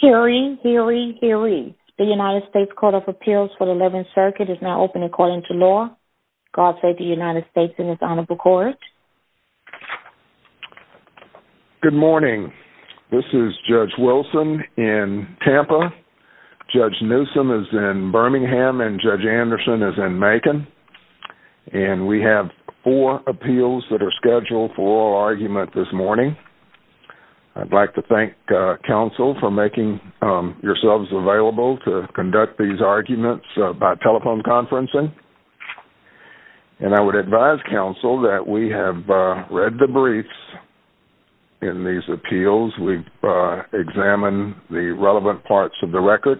Hearing, hearing, hearing. The United States Court of Appeals for the 11th Circuit is now open according to law. God save the United States and its honorable court. Good morning. This is Judge Wilson in Tampa. Judge Newsom is in Birmingham, and Judge Anderson is in Macon. And we have four appeals that are scheduled for oral argument this morning. I'd like to thank counsel for making yourselves available to conduct these arguments by telephone conferencing. And I would advise counsel that we have read the briefs in these appeals. We've examined the relevant parts of the record.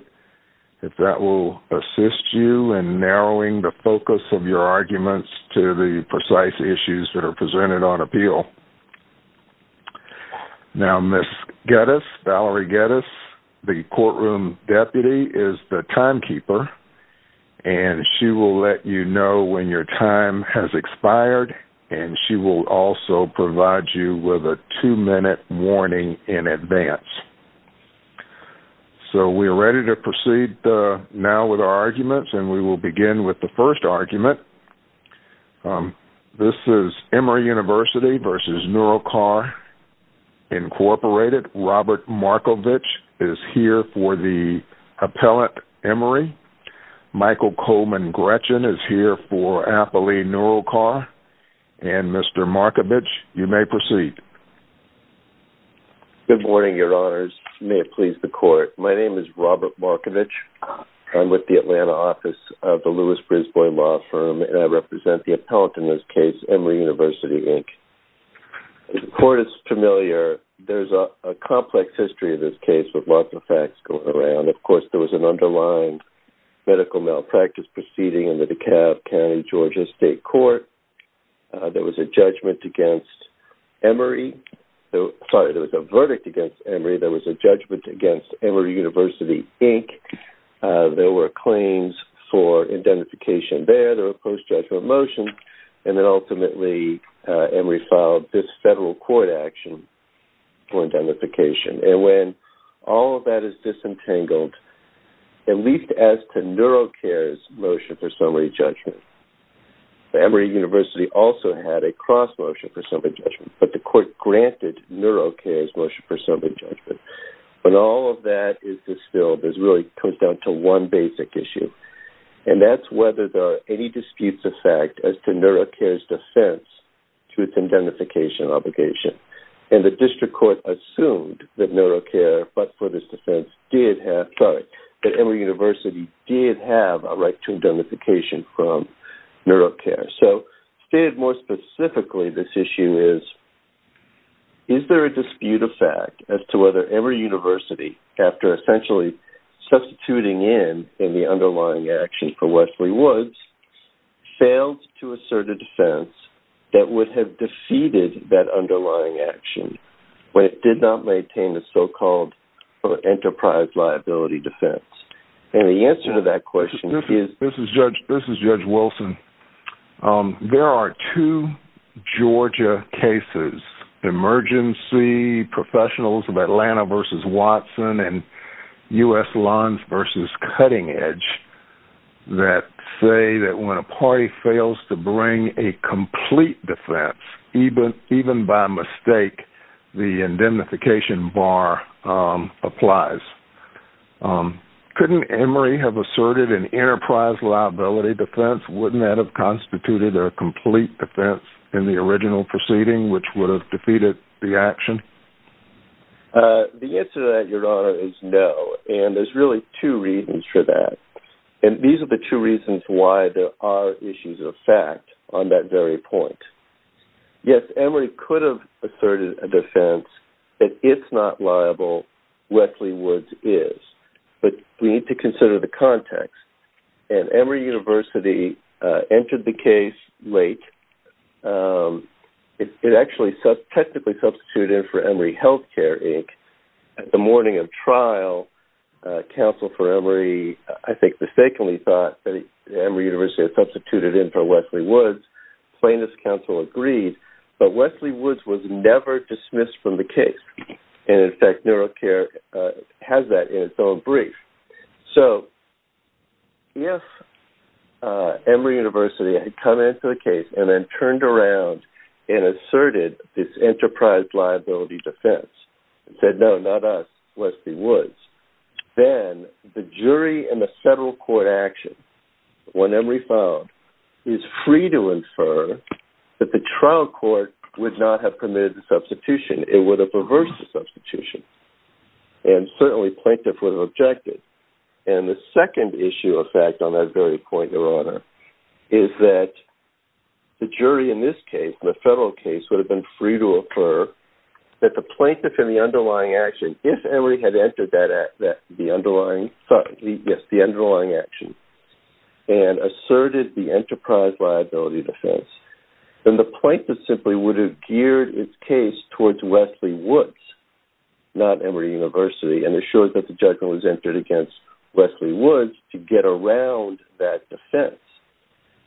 If that will assist you in narrowing the focus of your arguments to the precise issues that are presented on appeal. Now, Ms. Geddes, Valerie Geddes, the courtroom deputy, is the timekeeper. And she will let you know when your time has expired. And she will also provide you with a two-minute warning in advance. So we are ready to proceed now with our arguments. And we will begin with the first argument. This is Emory University v. Neurocar, Incorporated. Robert Markovich is here for the appellant Emory. Michael Coleman Gretchen is here for appellee Neurocar. And Mr. Markovich, you may proceed. Good morning, your honors. May it please the court. My name is Robert Markovich. I'm with the Atlanta office of the Lewis-Brisbois law firm. And I represent the appellant in this case, Emory University, Inc. The court is familiar. There's a complex history in this case with lots of facts going around. Of course, there was an underlined medical malpractice proceeding in the DeKalb County, Georgia, State Court. There was a judgment against Emory. Sorry, there was a verdict against Emory. Unfortunately, there was a judgment against Emory University, Inc. There were claims for indemnification there. There were post-judgment motions. And then ultimately, Emory filed this federal court action for indemnification. And when all of that is disentangled, at least as to Neurocar's motion for summary judgment, Emory University also had a cross motion for summary judgment. But the court granted Neurocar's motion for summary judgment. When all of that is distilled, it really comes down to one basic issue. And that's whether there are any disputes of fact as to Neurocar's defense to its indemnification obligation. And the district court assumed that Neurocar, but for this defense, did have, sorry, that Emory University did have a right to indemnification from Neurocar. So stated more specifically, this issue is, is there a dispute of fact as to whether Emory University, after essentially substituting in the underlying action for Wesley Woods, failed to assert a defense that would have defeated that underlying action when it did not maintain the so-called enterprise liability defense? And the answer to that question is? This is Judge Wilson. There are two Georgia cases, emergency professionals of Atlanta versus Watson and U.S. Lons versus Cutting Edge, that say that when a party fails to bring a complete defense, even by mistake, the indemnification bar applies. Couldn't Emory have asserted an enterprise liability defense? Wouldn't that have constituted a complete defense in the original proceeding, which would have defeated the action? The answer to that, Your Honor, is no. And there's really two reasons for that. And these are the two reasons why there are issues of fact on that very point. Yes, Emory could have asserted a defense that it's not liable, Wesley Woods is. But we need to consider the context. And Emory University entered the case late. It actually technically substituted for Emory Healthcare, Inc. The morning of trial, counsel for Emory, I think, mistakenly thought that Emory University had substituted in for Wesley Woods. Plaintiff's counsel agreed, but Wesley Woods was never dismissed from the case. And, in fact, NeuroCare has that in its own brief. So if Emory University had come into the case and then turned around and asserted this enterprise liability defense and said, no, not us, Wesley Woods, then the jury and the federal court action, when Emory filed, is free to infer that the trial court would not have committed the substitution. It would have reversed the substitution. And certainly plaintiff would have objected. And the second issue of fact on that very point, Your Honor, is that the jury in this case, the federal case, would have been free to infer that the plaintiff in the underlying action, if Emory had entered the underlying action and asserted the enterprise liability defense, then the plaintiff simply would have geared its case towards Wesley Woods, not Emory University, and assured that the judgment was entered against Wesley Woods to get around that defense.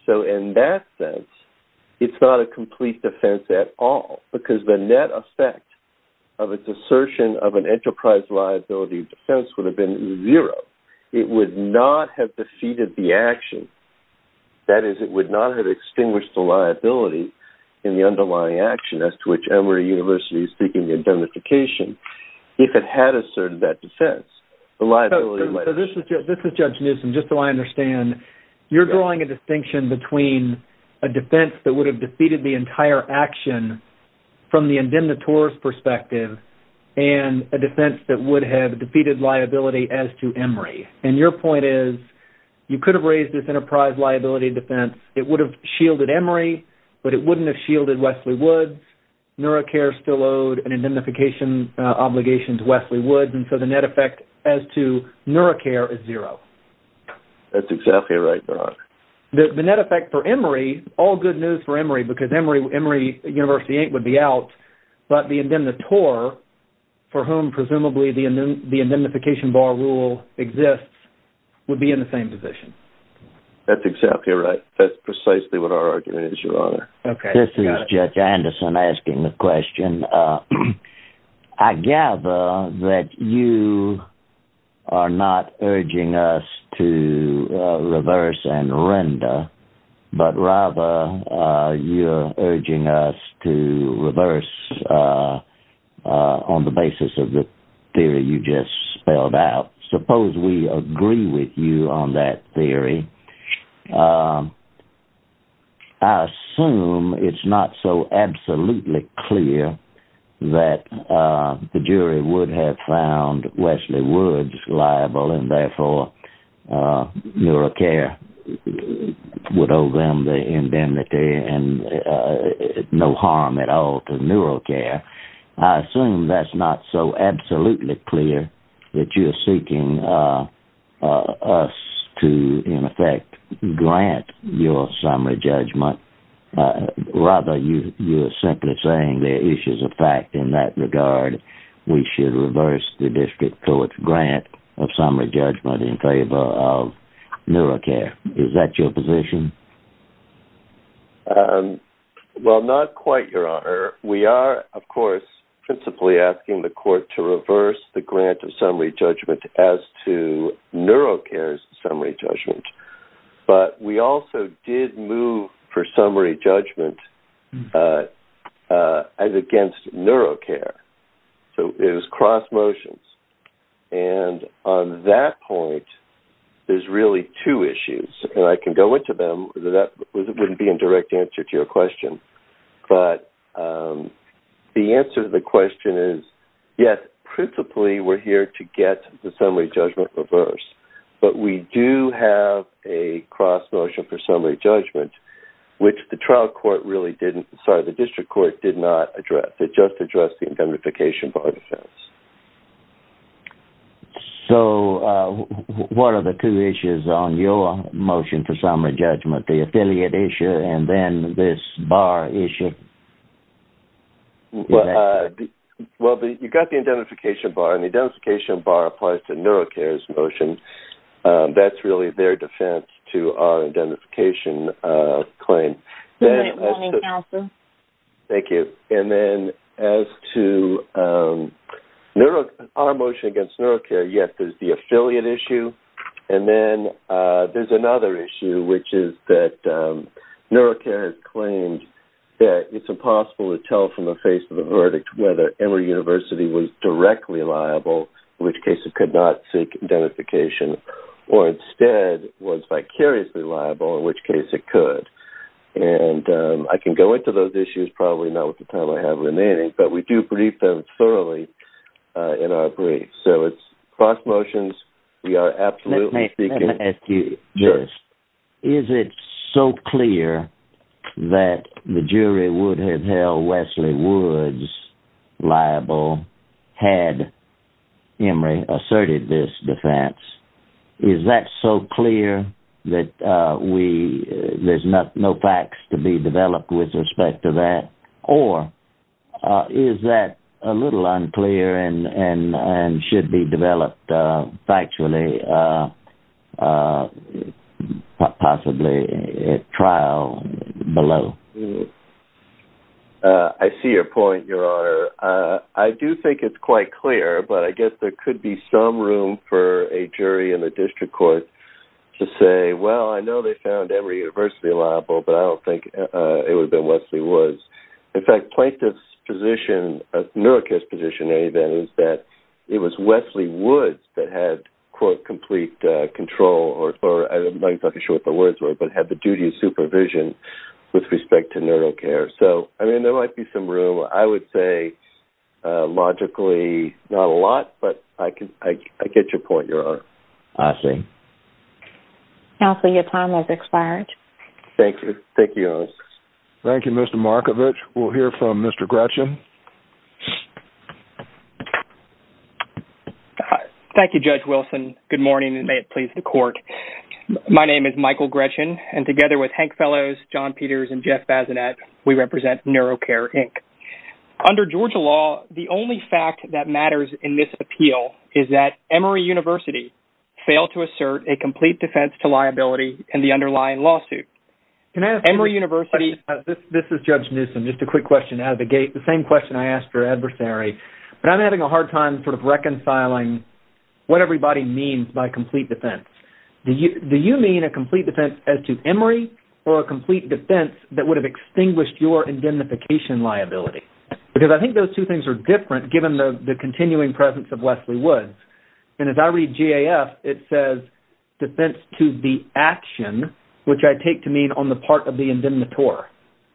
So in that sense, it's not a complete defense at all because the net effect of its assertion of an enterprise liability defense would have been zero. It would not have defeated the action. That is, it would not have extinguished the liability in the underlying action as to which Emory University is seeking indemnification if it had asserted that defense. So this is Judge Newsom, just so I understand. You're drawing a distinction between a defense that would have defeated the entire action from the indemnitor's perspective and a defense that would have defeated liability as to Emory. And your point is you could have raised this enterprise liability defense. It would have shielded Emory, but it wouldn't have shielded Wesley Woods. NeuroCare still owed an indemnification obligation to Wesley Woods, and so the net effect as to NeuroCare is zero. That's exactly right, Your Honor. The net effect for Emory, all good news for Emory, because Emory University would be out, but the indemnitor, for whom presumably the indemnification bar rule exists, would be in the same position. That's exactly right. That's precisely what our argument is, Your Honor. This is Judge Anderson asking the question. I gather that you are not urging us to reverse and render, but rather you're urging us to reverse on the basis of the theory you just spelled out. Suppose we agree with you on that theory. I assume it's not so absolutely clear that the jury would have found Wesley Woods liable and therefore NeuroCare would owe them the indemnity and no harm at all to NeuroCare. I assume that's not so absolutely clear that you're seeking us to, in effect, grant your summary judgment. Rather, you're simply saying there are issues of fact in that regard. We should reverse the district court's grant of summary judgment in favor of NeuroCare. Is that your position? Well, not quite, Your Honor. We are, of course, principally asking the court to reverse the grant of summary judgment as to NeuroCare's summary judgment. But we also did move for summary judgment against NeuroCare. So it was cross motions. And on that point, there's really two issues. And I can go into them. That wouldn't be a direct answer to your question. But the answer to the question is, yes, principally we're here to get the summary judgment reversed. But we do have a cross motion for summary judgment, which the district court did not address. It just addressed the indemnification bar defense. So what are the two issues on your motion for summary judgment? The affiliate issue and then this bar issue? Well, you've got the indemnification bar. And the indemnification bar applies to NeuroCare's motion. That's really their defense to our indemnification claim. Good morning, counsel. Thank you. And then as to our motion against NeuroCare, yes, there's the affiliate issue. And then there's another issue, which is that NeuroCare has claimed that it's impossible to tell from the face of the verdict whether Emory University was directly liable, in which case it could not seek indemnification, or instead was vicariously liable, in which case it could. And I can go into those issues probably not with the time I have remaining. But we do brief them thoroughly in our brief. So it's cross motions. Let me ask you this. Is it so clear that the jury would have held Wesley Woods liable had Emory asserted this defense? Is that so clear that there's no facts to be developed with respect to that? Or is that a little unclear and should be developed factually, possibly at trial below? I see your point, Your Honor. I do think it's quite clear, but I guess there could be some room for a jury in the district court to say, well, I know they found Emory University liable, but I don't think it would have been Wesley Woods. In fact, plaintiff's position, NeuroCare's position, is that it was Wesley Woods that had, quote, complete control, or I'm not exactly sure what the words were, but had the duty of supervision with respect to NeuroCare. So, I mean, there might be some room. I would say logically not a lot, but I get your point, Your Honor. I see. Counsel, your time has expired. Thank you. Thank you, Your Honor. Thank you, Mr. Markovich. We'll hear from Mr. Gretchen. Thank you, Judge Wilson. Good morning, and may it please the court. My name is Michael Gretchen, and together with Hank Fellows, John Peters, and Jeff Bazinet, we represent NeuroCare, Inc. Under Georgia law, the only fact that matters in this appeal is that Emory University failed to assert a complete defense to liability in the underlying lawsuit. Can I ask you a question? Emory University. This is Judge Newsom. Just a quick question out of the gate, the same question I asked your adversary, but I'm having a hard time sort of reconciling what everybody means by complete defense. Do you mean a complete defense as to Emory or a complete defense that would have extinguished your indemnification liability? Because I think those two things are different given the continuing presence of Wesley Woods. And as I read GAF, it says defense to the action, which I take to mean on the part of the indemnitor.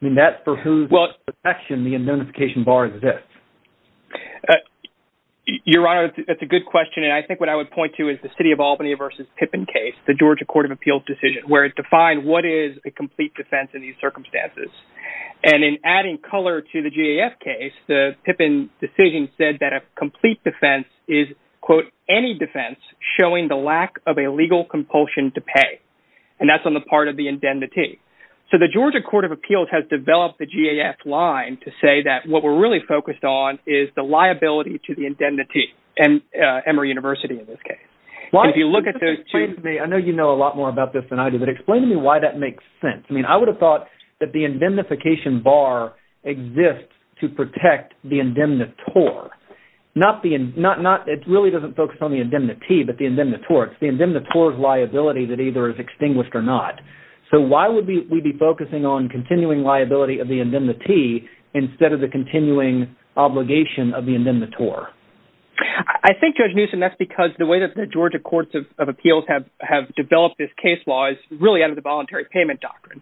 I mean, that's for whose action the indemnification bar exists. Your Honor, that's a good question. And I think what I would point to is the city of Albany versus Pippin case, the Georgia Court of Appeals decision, where it defined what is a complete defense in these circumstances. And in adding color to the GAF case, the Pippin decision said that a complete defense is, quote, any defense showing the lack of a legal compulsion to pay. And that's on the part of the indemnity. So the Georgia Court of Appeals has developed the GAF line to say that what we're really focused on is the liability to the indemnity, and Emory University in this case. If you look at those two… I know you know a lot more about this than I do, but explain to me why that makes sense. I mean, I would have thought that the indemnification bar exists to protect the indemnitor. It really doesn't focus on the indemnity, but the indemnitor. It's the indemnitor's liability that either is extinguished or not. So why would we be focusing on continuing liability of the indemnity instead of the continuing obligation of the indemnitor? I think, Judge Newsom, that's because the way that the Georgia Courts of Appeals have developed this case law is really out of the voluntary payment doctrine.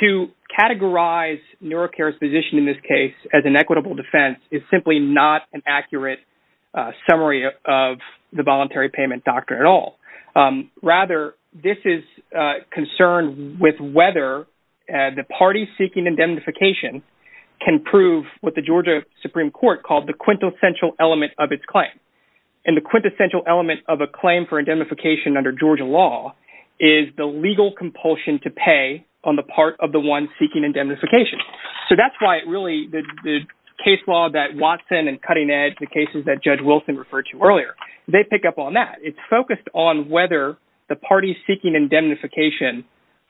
To categorize NeuroCare's position in this case as an equitable defense is simply not an accurate summary of the voluntary payment doctrine at all. Rather, this is concerned with whether the party seeking indemnification can prove what the Georgia Supreme Court called the quintessential element of its claim. And the quintessential element of a claim for indemnification under Georgia law is the legal compulsion to pay on the part of the one seeking indemnification. So that's why it really… the case law that Watson and Cutting Edge, the cases that Judge Wilson referred to earlier, they pick up on that. It's focused on whether the party seeking indemnification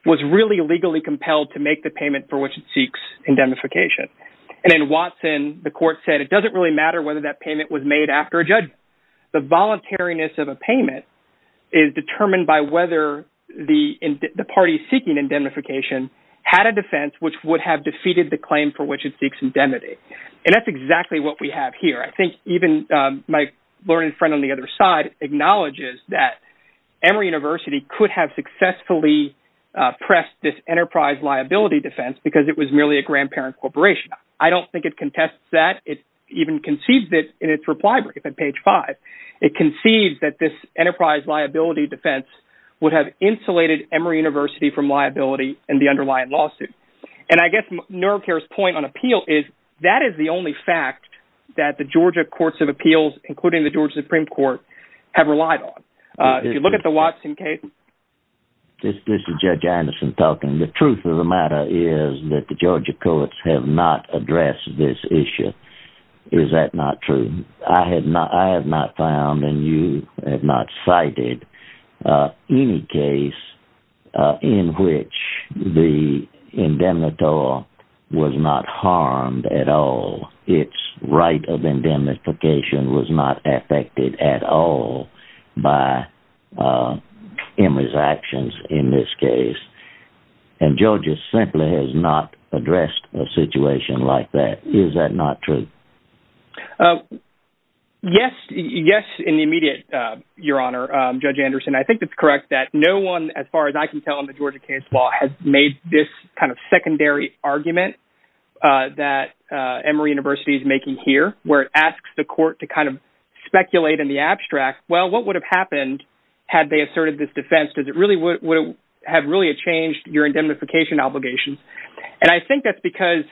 was really legally compelled to make the payment for which it seeks indemnification. And in Watson, the court said it doesn't really matter whether that payment was made after a judgment. The voluntariness of a payment is determined by whether the party seeking indemnification had a defense which would have defeated the claim for which it seeks indemnity. And that's exactly what we have here. I think even my learned friend on the other side acknowledges that Emory University could have successfully pressed this enterprise liability defense because it was merely a grandparent corporation. I don't think it contests that. It even concedes it in its reply brief at page 5. It concedes that this enterprise liability defense would have insulated Emory University from liability in the underlying lawsuit. And I guess NeuroCare's point on appeal is that is the only fact that the Georgia courts of appeals, including the Georgia Supreme Court, have relied on. If you look at the Watson case… This is Judge Anderson talking. The truth of the matter is that the Georgia courts have not addressed this issue. Is that not true? I have not found and you have not cited any case in which the indemnitor was not harmed at all. Its right of indemnification was not affected at all by Emory's actions in this case. And Georgia simply has not addressed a situation like that. Is that not true? Yes, in the immediate, Your Honor, Judge Anderson. I think it's correct that no one, as far as I can tell in the Georgia case law, has made this kind of secondary argument that Emory University is making here where it asks the court to kind of speculate in the abstract. Well, what would have happened had they asserted this defense? Would it have really changed your indemnification obligations? And I think that's because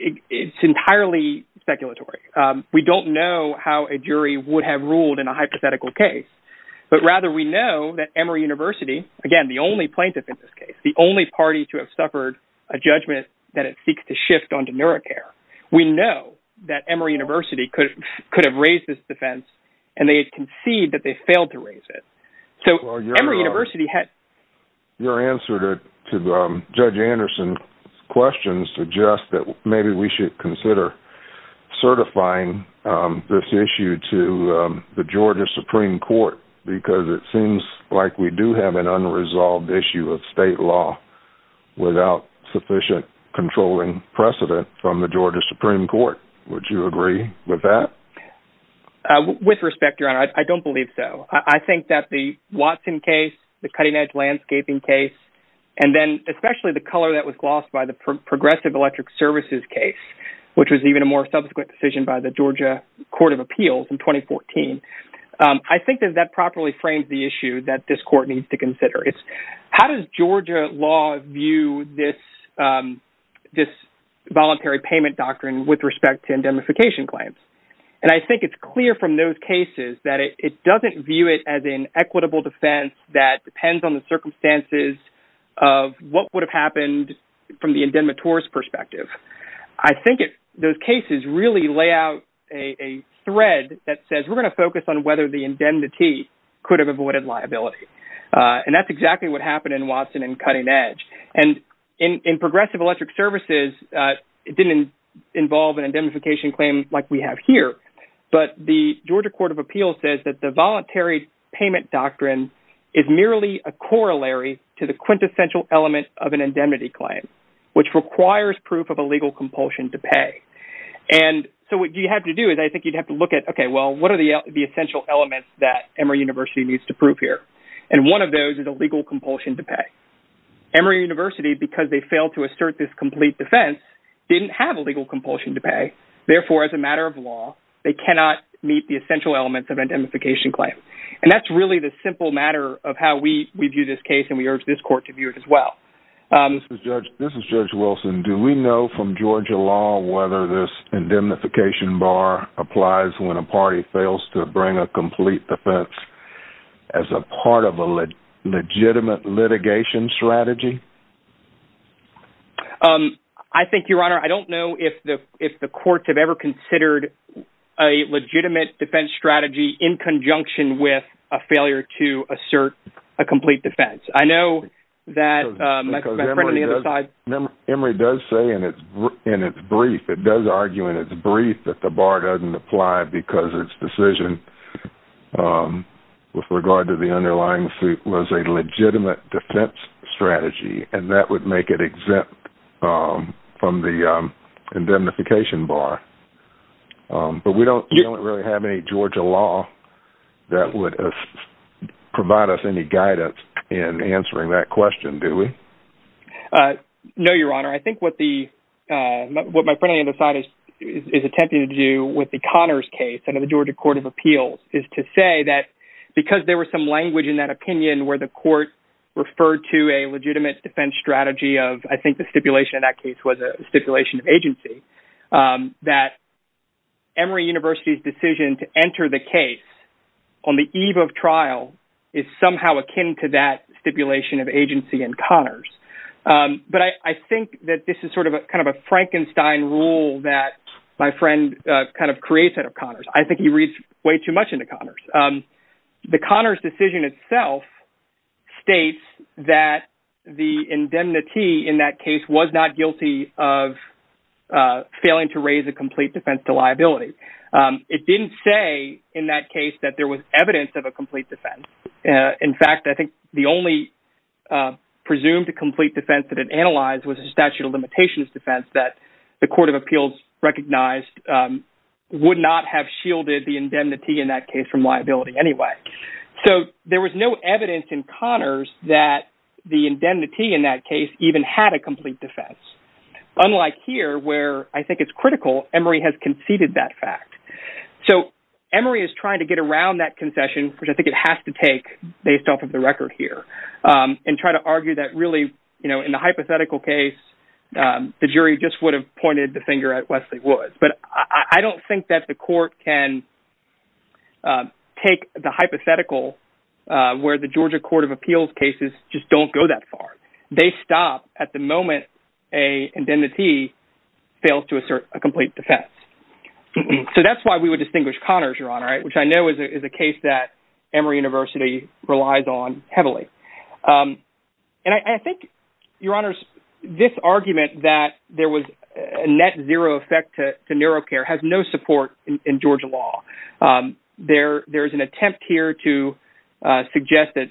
it's entirely speculatory. We don't know how a jury would have ruled in a hypothetical case. But rather we know that Emory University, again, the only plaintiff in this case, the only party to have suffered a judgment that it seeks to shift onto neurocare. We know that Emory University could have raised this defense and they concede that they failed to raise it. Your answer to Judge Anderson's question suggests that maybe we should consider certifying this issue to the Georgia Supreme Court because it seems like we do have an unresolved issue of state law without sufficient controlling precedent from the Georgia Supreme Court. Would you agree with that? With respect, Your Honor, I don't believe so. I think that the Watson case, the cutting-edge landscaping case, and then especially the color that was lost by the Progressive Electric Services case, which was even a more subsequent decision by the Georgia Court of Appeals in 2014, I think that that properly frames the issue that this court needs to consider. How does Georgia law view this voluntary payment doctrine with respect to indemnification claims? And I think it's clear from those cases that it doesn't view it as an equitable defense that depends on the circumstances of what would have happened from the indemnitor's perspective. I think those cases really lay out a thread that says we're going to focus on whether the indemnity could have avoided liability. And that's exactly what happened in Watson and cutting-edge. And in Progressive Electric Services, it didn't involve an indemnification claim like we have here, but the Georgia Court of Appeals says that the voluntary payment doctrine is merely a corollary to the quintessential element of an indemnity claim, which requires proof of a legal compulsion to pay. And so what you have to do is I think you'd have to look at, okay, well, what are the essential elements that Emory University needs to prove here? And one of those is a legal compulsion to pay. Emory University, because they failed to assert this complete defense, didn't have a legal compulsion to pay. Therefore, as a matter of law, they cannot meet the essential elements of an indemnification claim. And that's really the simple matter of how we view this case, and we urge this court to view it as well. This is Judge Wilson. Do we know from Georgia law whether this indemnification bar applies when a party fails to bring a complete defense as a part of a legitimate litigation strategy? I think, Your Honor, I don't know if the courts have ever considered a legitimate defense strategy in conjunction with a failure to assert a complete defense. I know that my friend on the other side… Emory does say in its brief, it does argue in its brief, that the bar doesn't apply because its decision with regard to the underlying suit was a legitimate defense strategy, and that would make it exempt from the indemnification bar. But we don't really have any Georgia law that would provide us any guidance in answering that question, do we? No, Your Honor. I think what my friend on the other side is attempting to do with the Connors case under the Georgia Court of Appeals is to say that because there was some language in that opinion where the court referred to a legitimate defense strategy of… that Emory University's decision to enter the case on the eve of trial is somehow akin to that stipulation of agency in Connors. But I think that this is sort of a kind of a Frankenstein rule that my friend kind of creates out of Connors. I think he reads way too much into Connors. The Connors decision itself states that the indemnity in that case was not guilty of failing to raise a complete defense to liability. It didn't say in that case that there was evidence of a complete defense. In fact, I think the only presumed complete defense that it analyzed was a statute of limitations defense that the Court of Appeals recognized would not have shielded the indemnity in that case from liability anyway. So there was no evidence in Connors that the indemnity in that case even had a complete defense. Unlike here, where I think it's critical, Emory has conceded that fact. So Emory is trying to get around that concession, which I think it has to take based off of the record here, and try to argue that really, you know, in the hypothetical case, the jury just would have pointed the finger at Wesley Woods. But I don't think that the court can take the hypothetical where the Georgia Court of Appeals cases just don't go that far. They stop at the moment a indemnity fails to assert a complete defense. So that's why we would distinguish Connors, Your Honor, which I know is a case that Emory University relies on heavily. And I think, Your Honors, this argument that there was a net zero effect to neuro care has no support in Georgia law. There's an attempt here to suggest that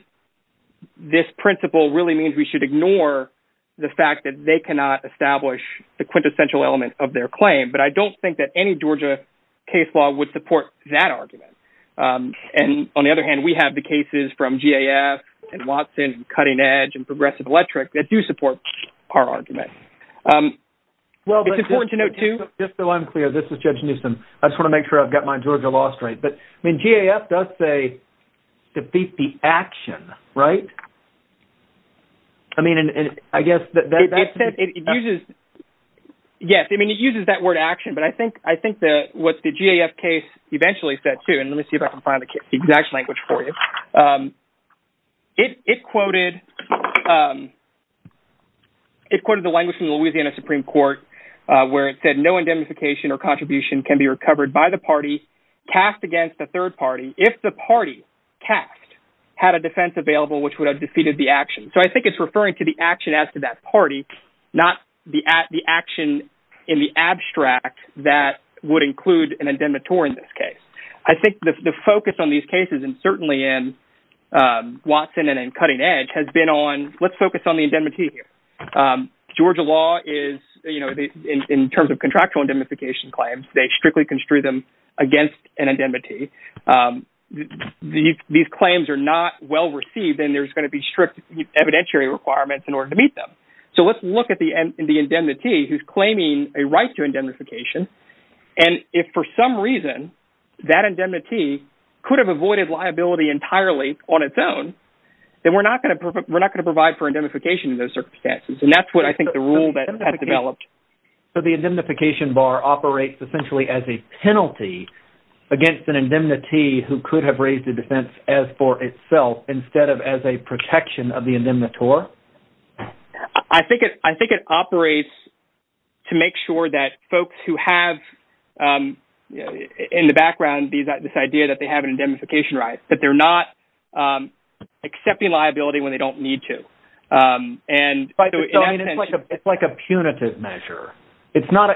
this principle really means we should ignore the fact that they cannot establish the quintessential element of their claim. But I don't think that any Georgia case law would support that argument. And on the other hand, we have the cases from GAF and Watson and Cutting Edge and Progressive Electric that do support our argument. It's important to note, too… Just so I'm clear, this is Judge Newsom. I just want to make sure I've got my Georgia law straight. But GAF does say, defeat the action, right? I mean, I guess that… Yes, I mean, it uses that word action, but I think what the GAF case eventually said, too… And let me see if I can find the exact language for you. It quoted the language from the Louisiana Supreme Court where it said, no indemnification or contribution can be recovered by the party cast against the third party if the party cast had a defense available which would have defeated the action. So I think it's referring to the action as to that party, not the action in the abstract that would include an indemnitor in this case. I think the focus on these cases, and certainly in Watson and in Cutting Edge, has been on… Let's focus on the indemnity here. Georgia law is, you know, in terms of contractual indemnification claims, they strictly construe them against an indemnity. These claims are not well-received, and there's going to be strict evidentiary requirements in order to meet them. So let's look at the indemnity who's claiming a right to indemnification, and if for some reason that indemnity could have avoided liability entirely on its own, then we're not going to provide for indemnification in those circumstances, and that's what I think the rule has developed. So the indemnification bar operates essentially as a penalty against an indemnity who could have raised a defense as for itself instead of as a protection of the indemnitor? I think it operates to make sure that folks who have, in the background, this idea that they have an indemnification right, but they're not accepting liability when they don't need to. It's like a punitive measure. It's not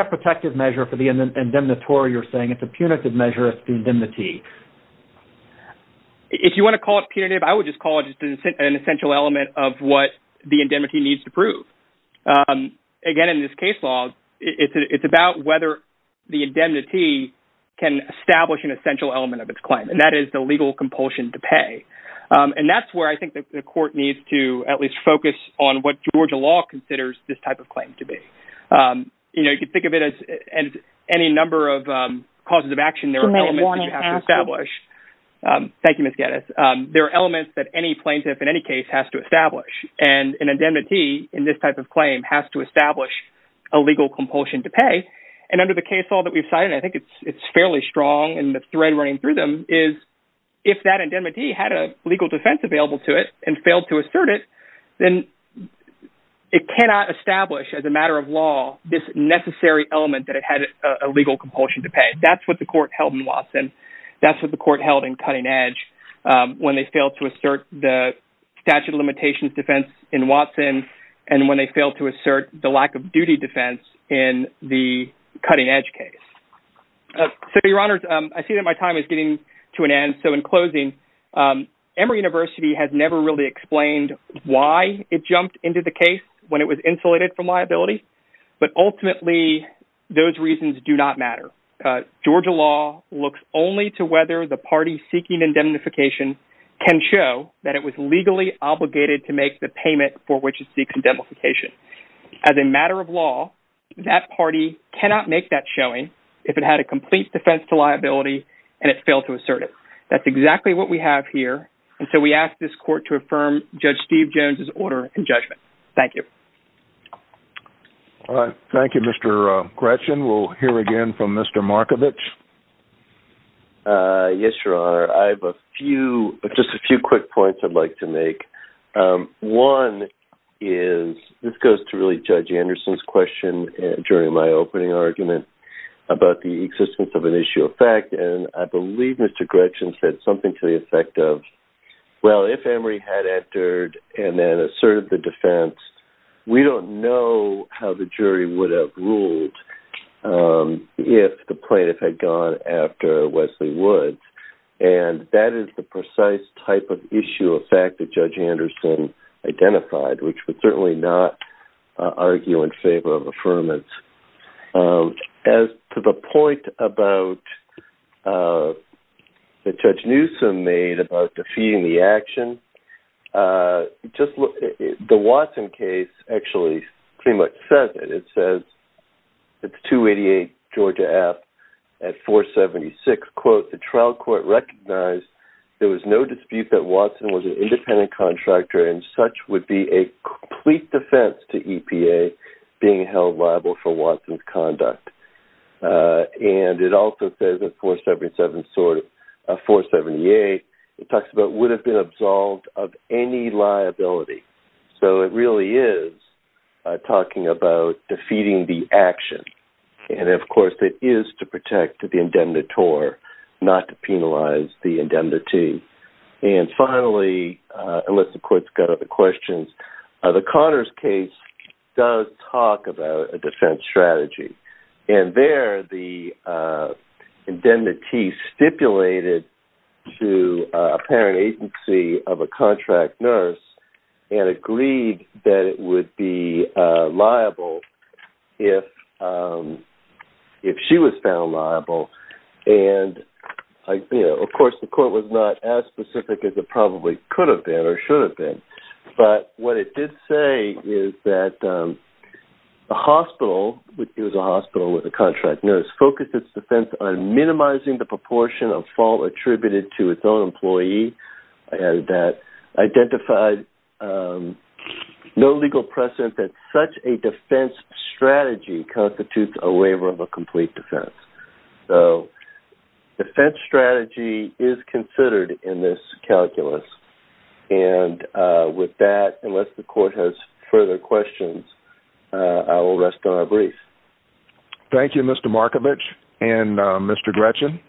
a protective measure for the indemnitor, you're saying. It's a punitive measure of indemnity. If you want to call it punitive, I would just call it an essential element of what the indemnity needs to prove. Again, in this case law, it's about whether the indemnity can establish an essential element of its claim, and that is the legal compulsion to pay. And that's where I think the court needs to at least focus on what Georgia law considers this type of claim to be. You can think of it as any number of causes of action there are elements that you have to establish. Thank you, Ms. Geddes. There are elements that any plaintiff in any case has to establish, and an indemnity in this type of claim has to establish a legal compulsion to pay. And under the case law that we've cited, I think it's fairly strong in the thread running through them, is if that indemnity had a legal defense available to it and failed to assert it, then it cannot establish as a matter of law this necessary element that it had a legal compulsion to pay. That's what the court held in Watson. That's what the court held in Cutting Edge. When they failed to assert the statute of limitations defense in Watson, and when they failed to assert the lack of duty defense in the Cutting Edge case. So, your honors, I see that my time is getting to an end. So, in closing, Emory University has never really explained why it jumped into the case when it was insulated from liability. But ultimately, those reasons do not matter. Georgia law looks only to whether the party seeking indemnification can show that it was legally obligated to make the payment for which it seeks indemnification. As a matter of law, that party cannot make that showing if it had a complete defense to liability and it failed to assert it. That's exactly what we have here, and so we ask this court to affirm Judge Steve Jones' order and judgment. Thank you. All right. Thank you, Mr. Gretchen. We'll hear again from Mr. Markovich. Yes, your honor. I have a few, just a few quick points I'd like to make. One is, this goes to really Judge Anderson's question during my opening argument about the existence of an issue of fact. And I believe Mr. Gretchen said something to the effect of, well, if Emory had entered and then asserted the defense, we don't know how the jury would have ruled if the plaintiff had gone after Wesley Woods. And that is the precise type of issue of fact that Judge Anderson identified, which would certainly not argue in favor of affirmance. As to the point that Judge Newsom made about defeating the action, the Watson case actually pretty much says it. It says, it's 288 Georgia F at 476, quote, the trial court recognized there was no dispute that Watson was an independent contractor and such would be a complete defense to EPA being held liable for Watson's conduct. And it also says at 477, 478, it talks about would have been absolved of any liability. So it really is talking about defeating the action. And of course it is to protect the indemnitor, not to penalize the indemnity. And finally, unless the court's got other questions, the Conners case does talk about a defense strategy. And there the indemnity stipulated to a parent agency of a contract nurse and agreed that it would be liable if she was found liable. And of course the court was not as specific as it probably could have been or should have been. But what it did say is that the hospital, it was a hospital with a contract nurse, focused its defense on minimizing the proportion of fault attributed to its own employee. And that identified no legal precedent that such a defense strategy constitutes a waiver of a complete defense. So defense strategy is considered in this calculus. And with that, unless the court has further questions, I will rest on a brief. Thank you Mr. Markovich and Mr. Gretchen.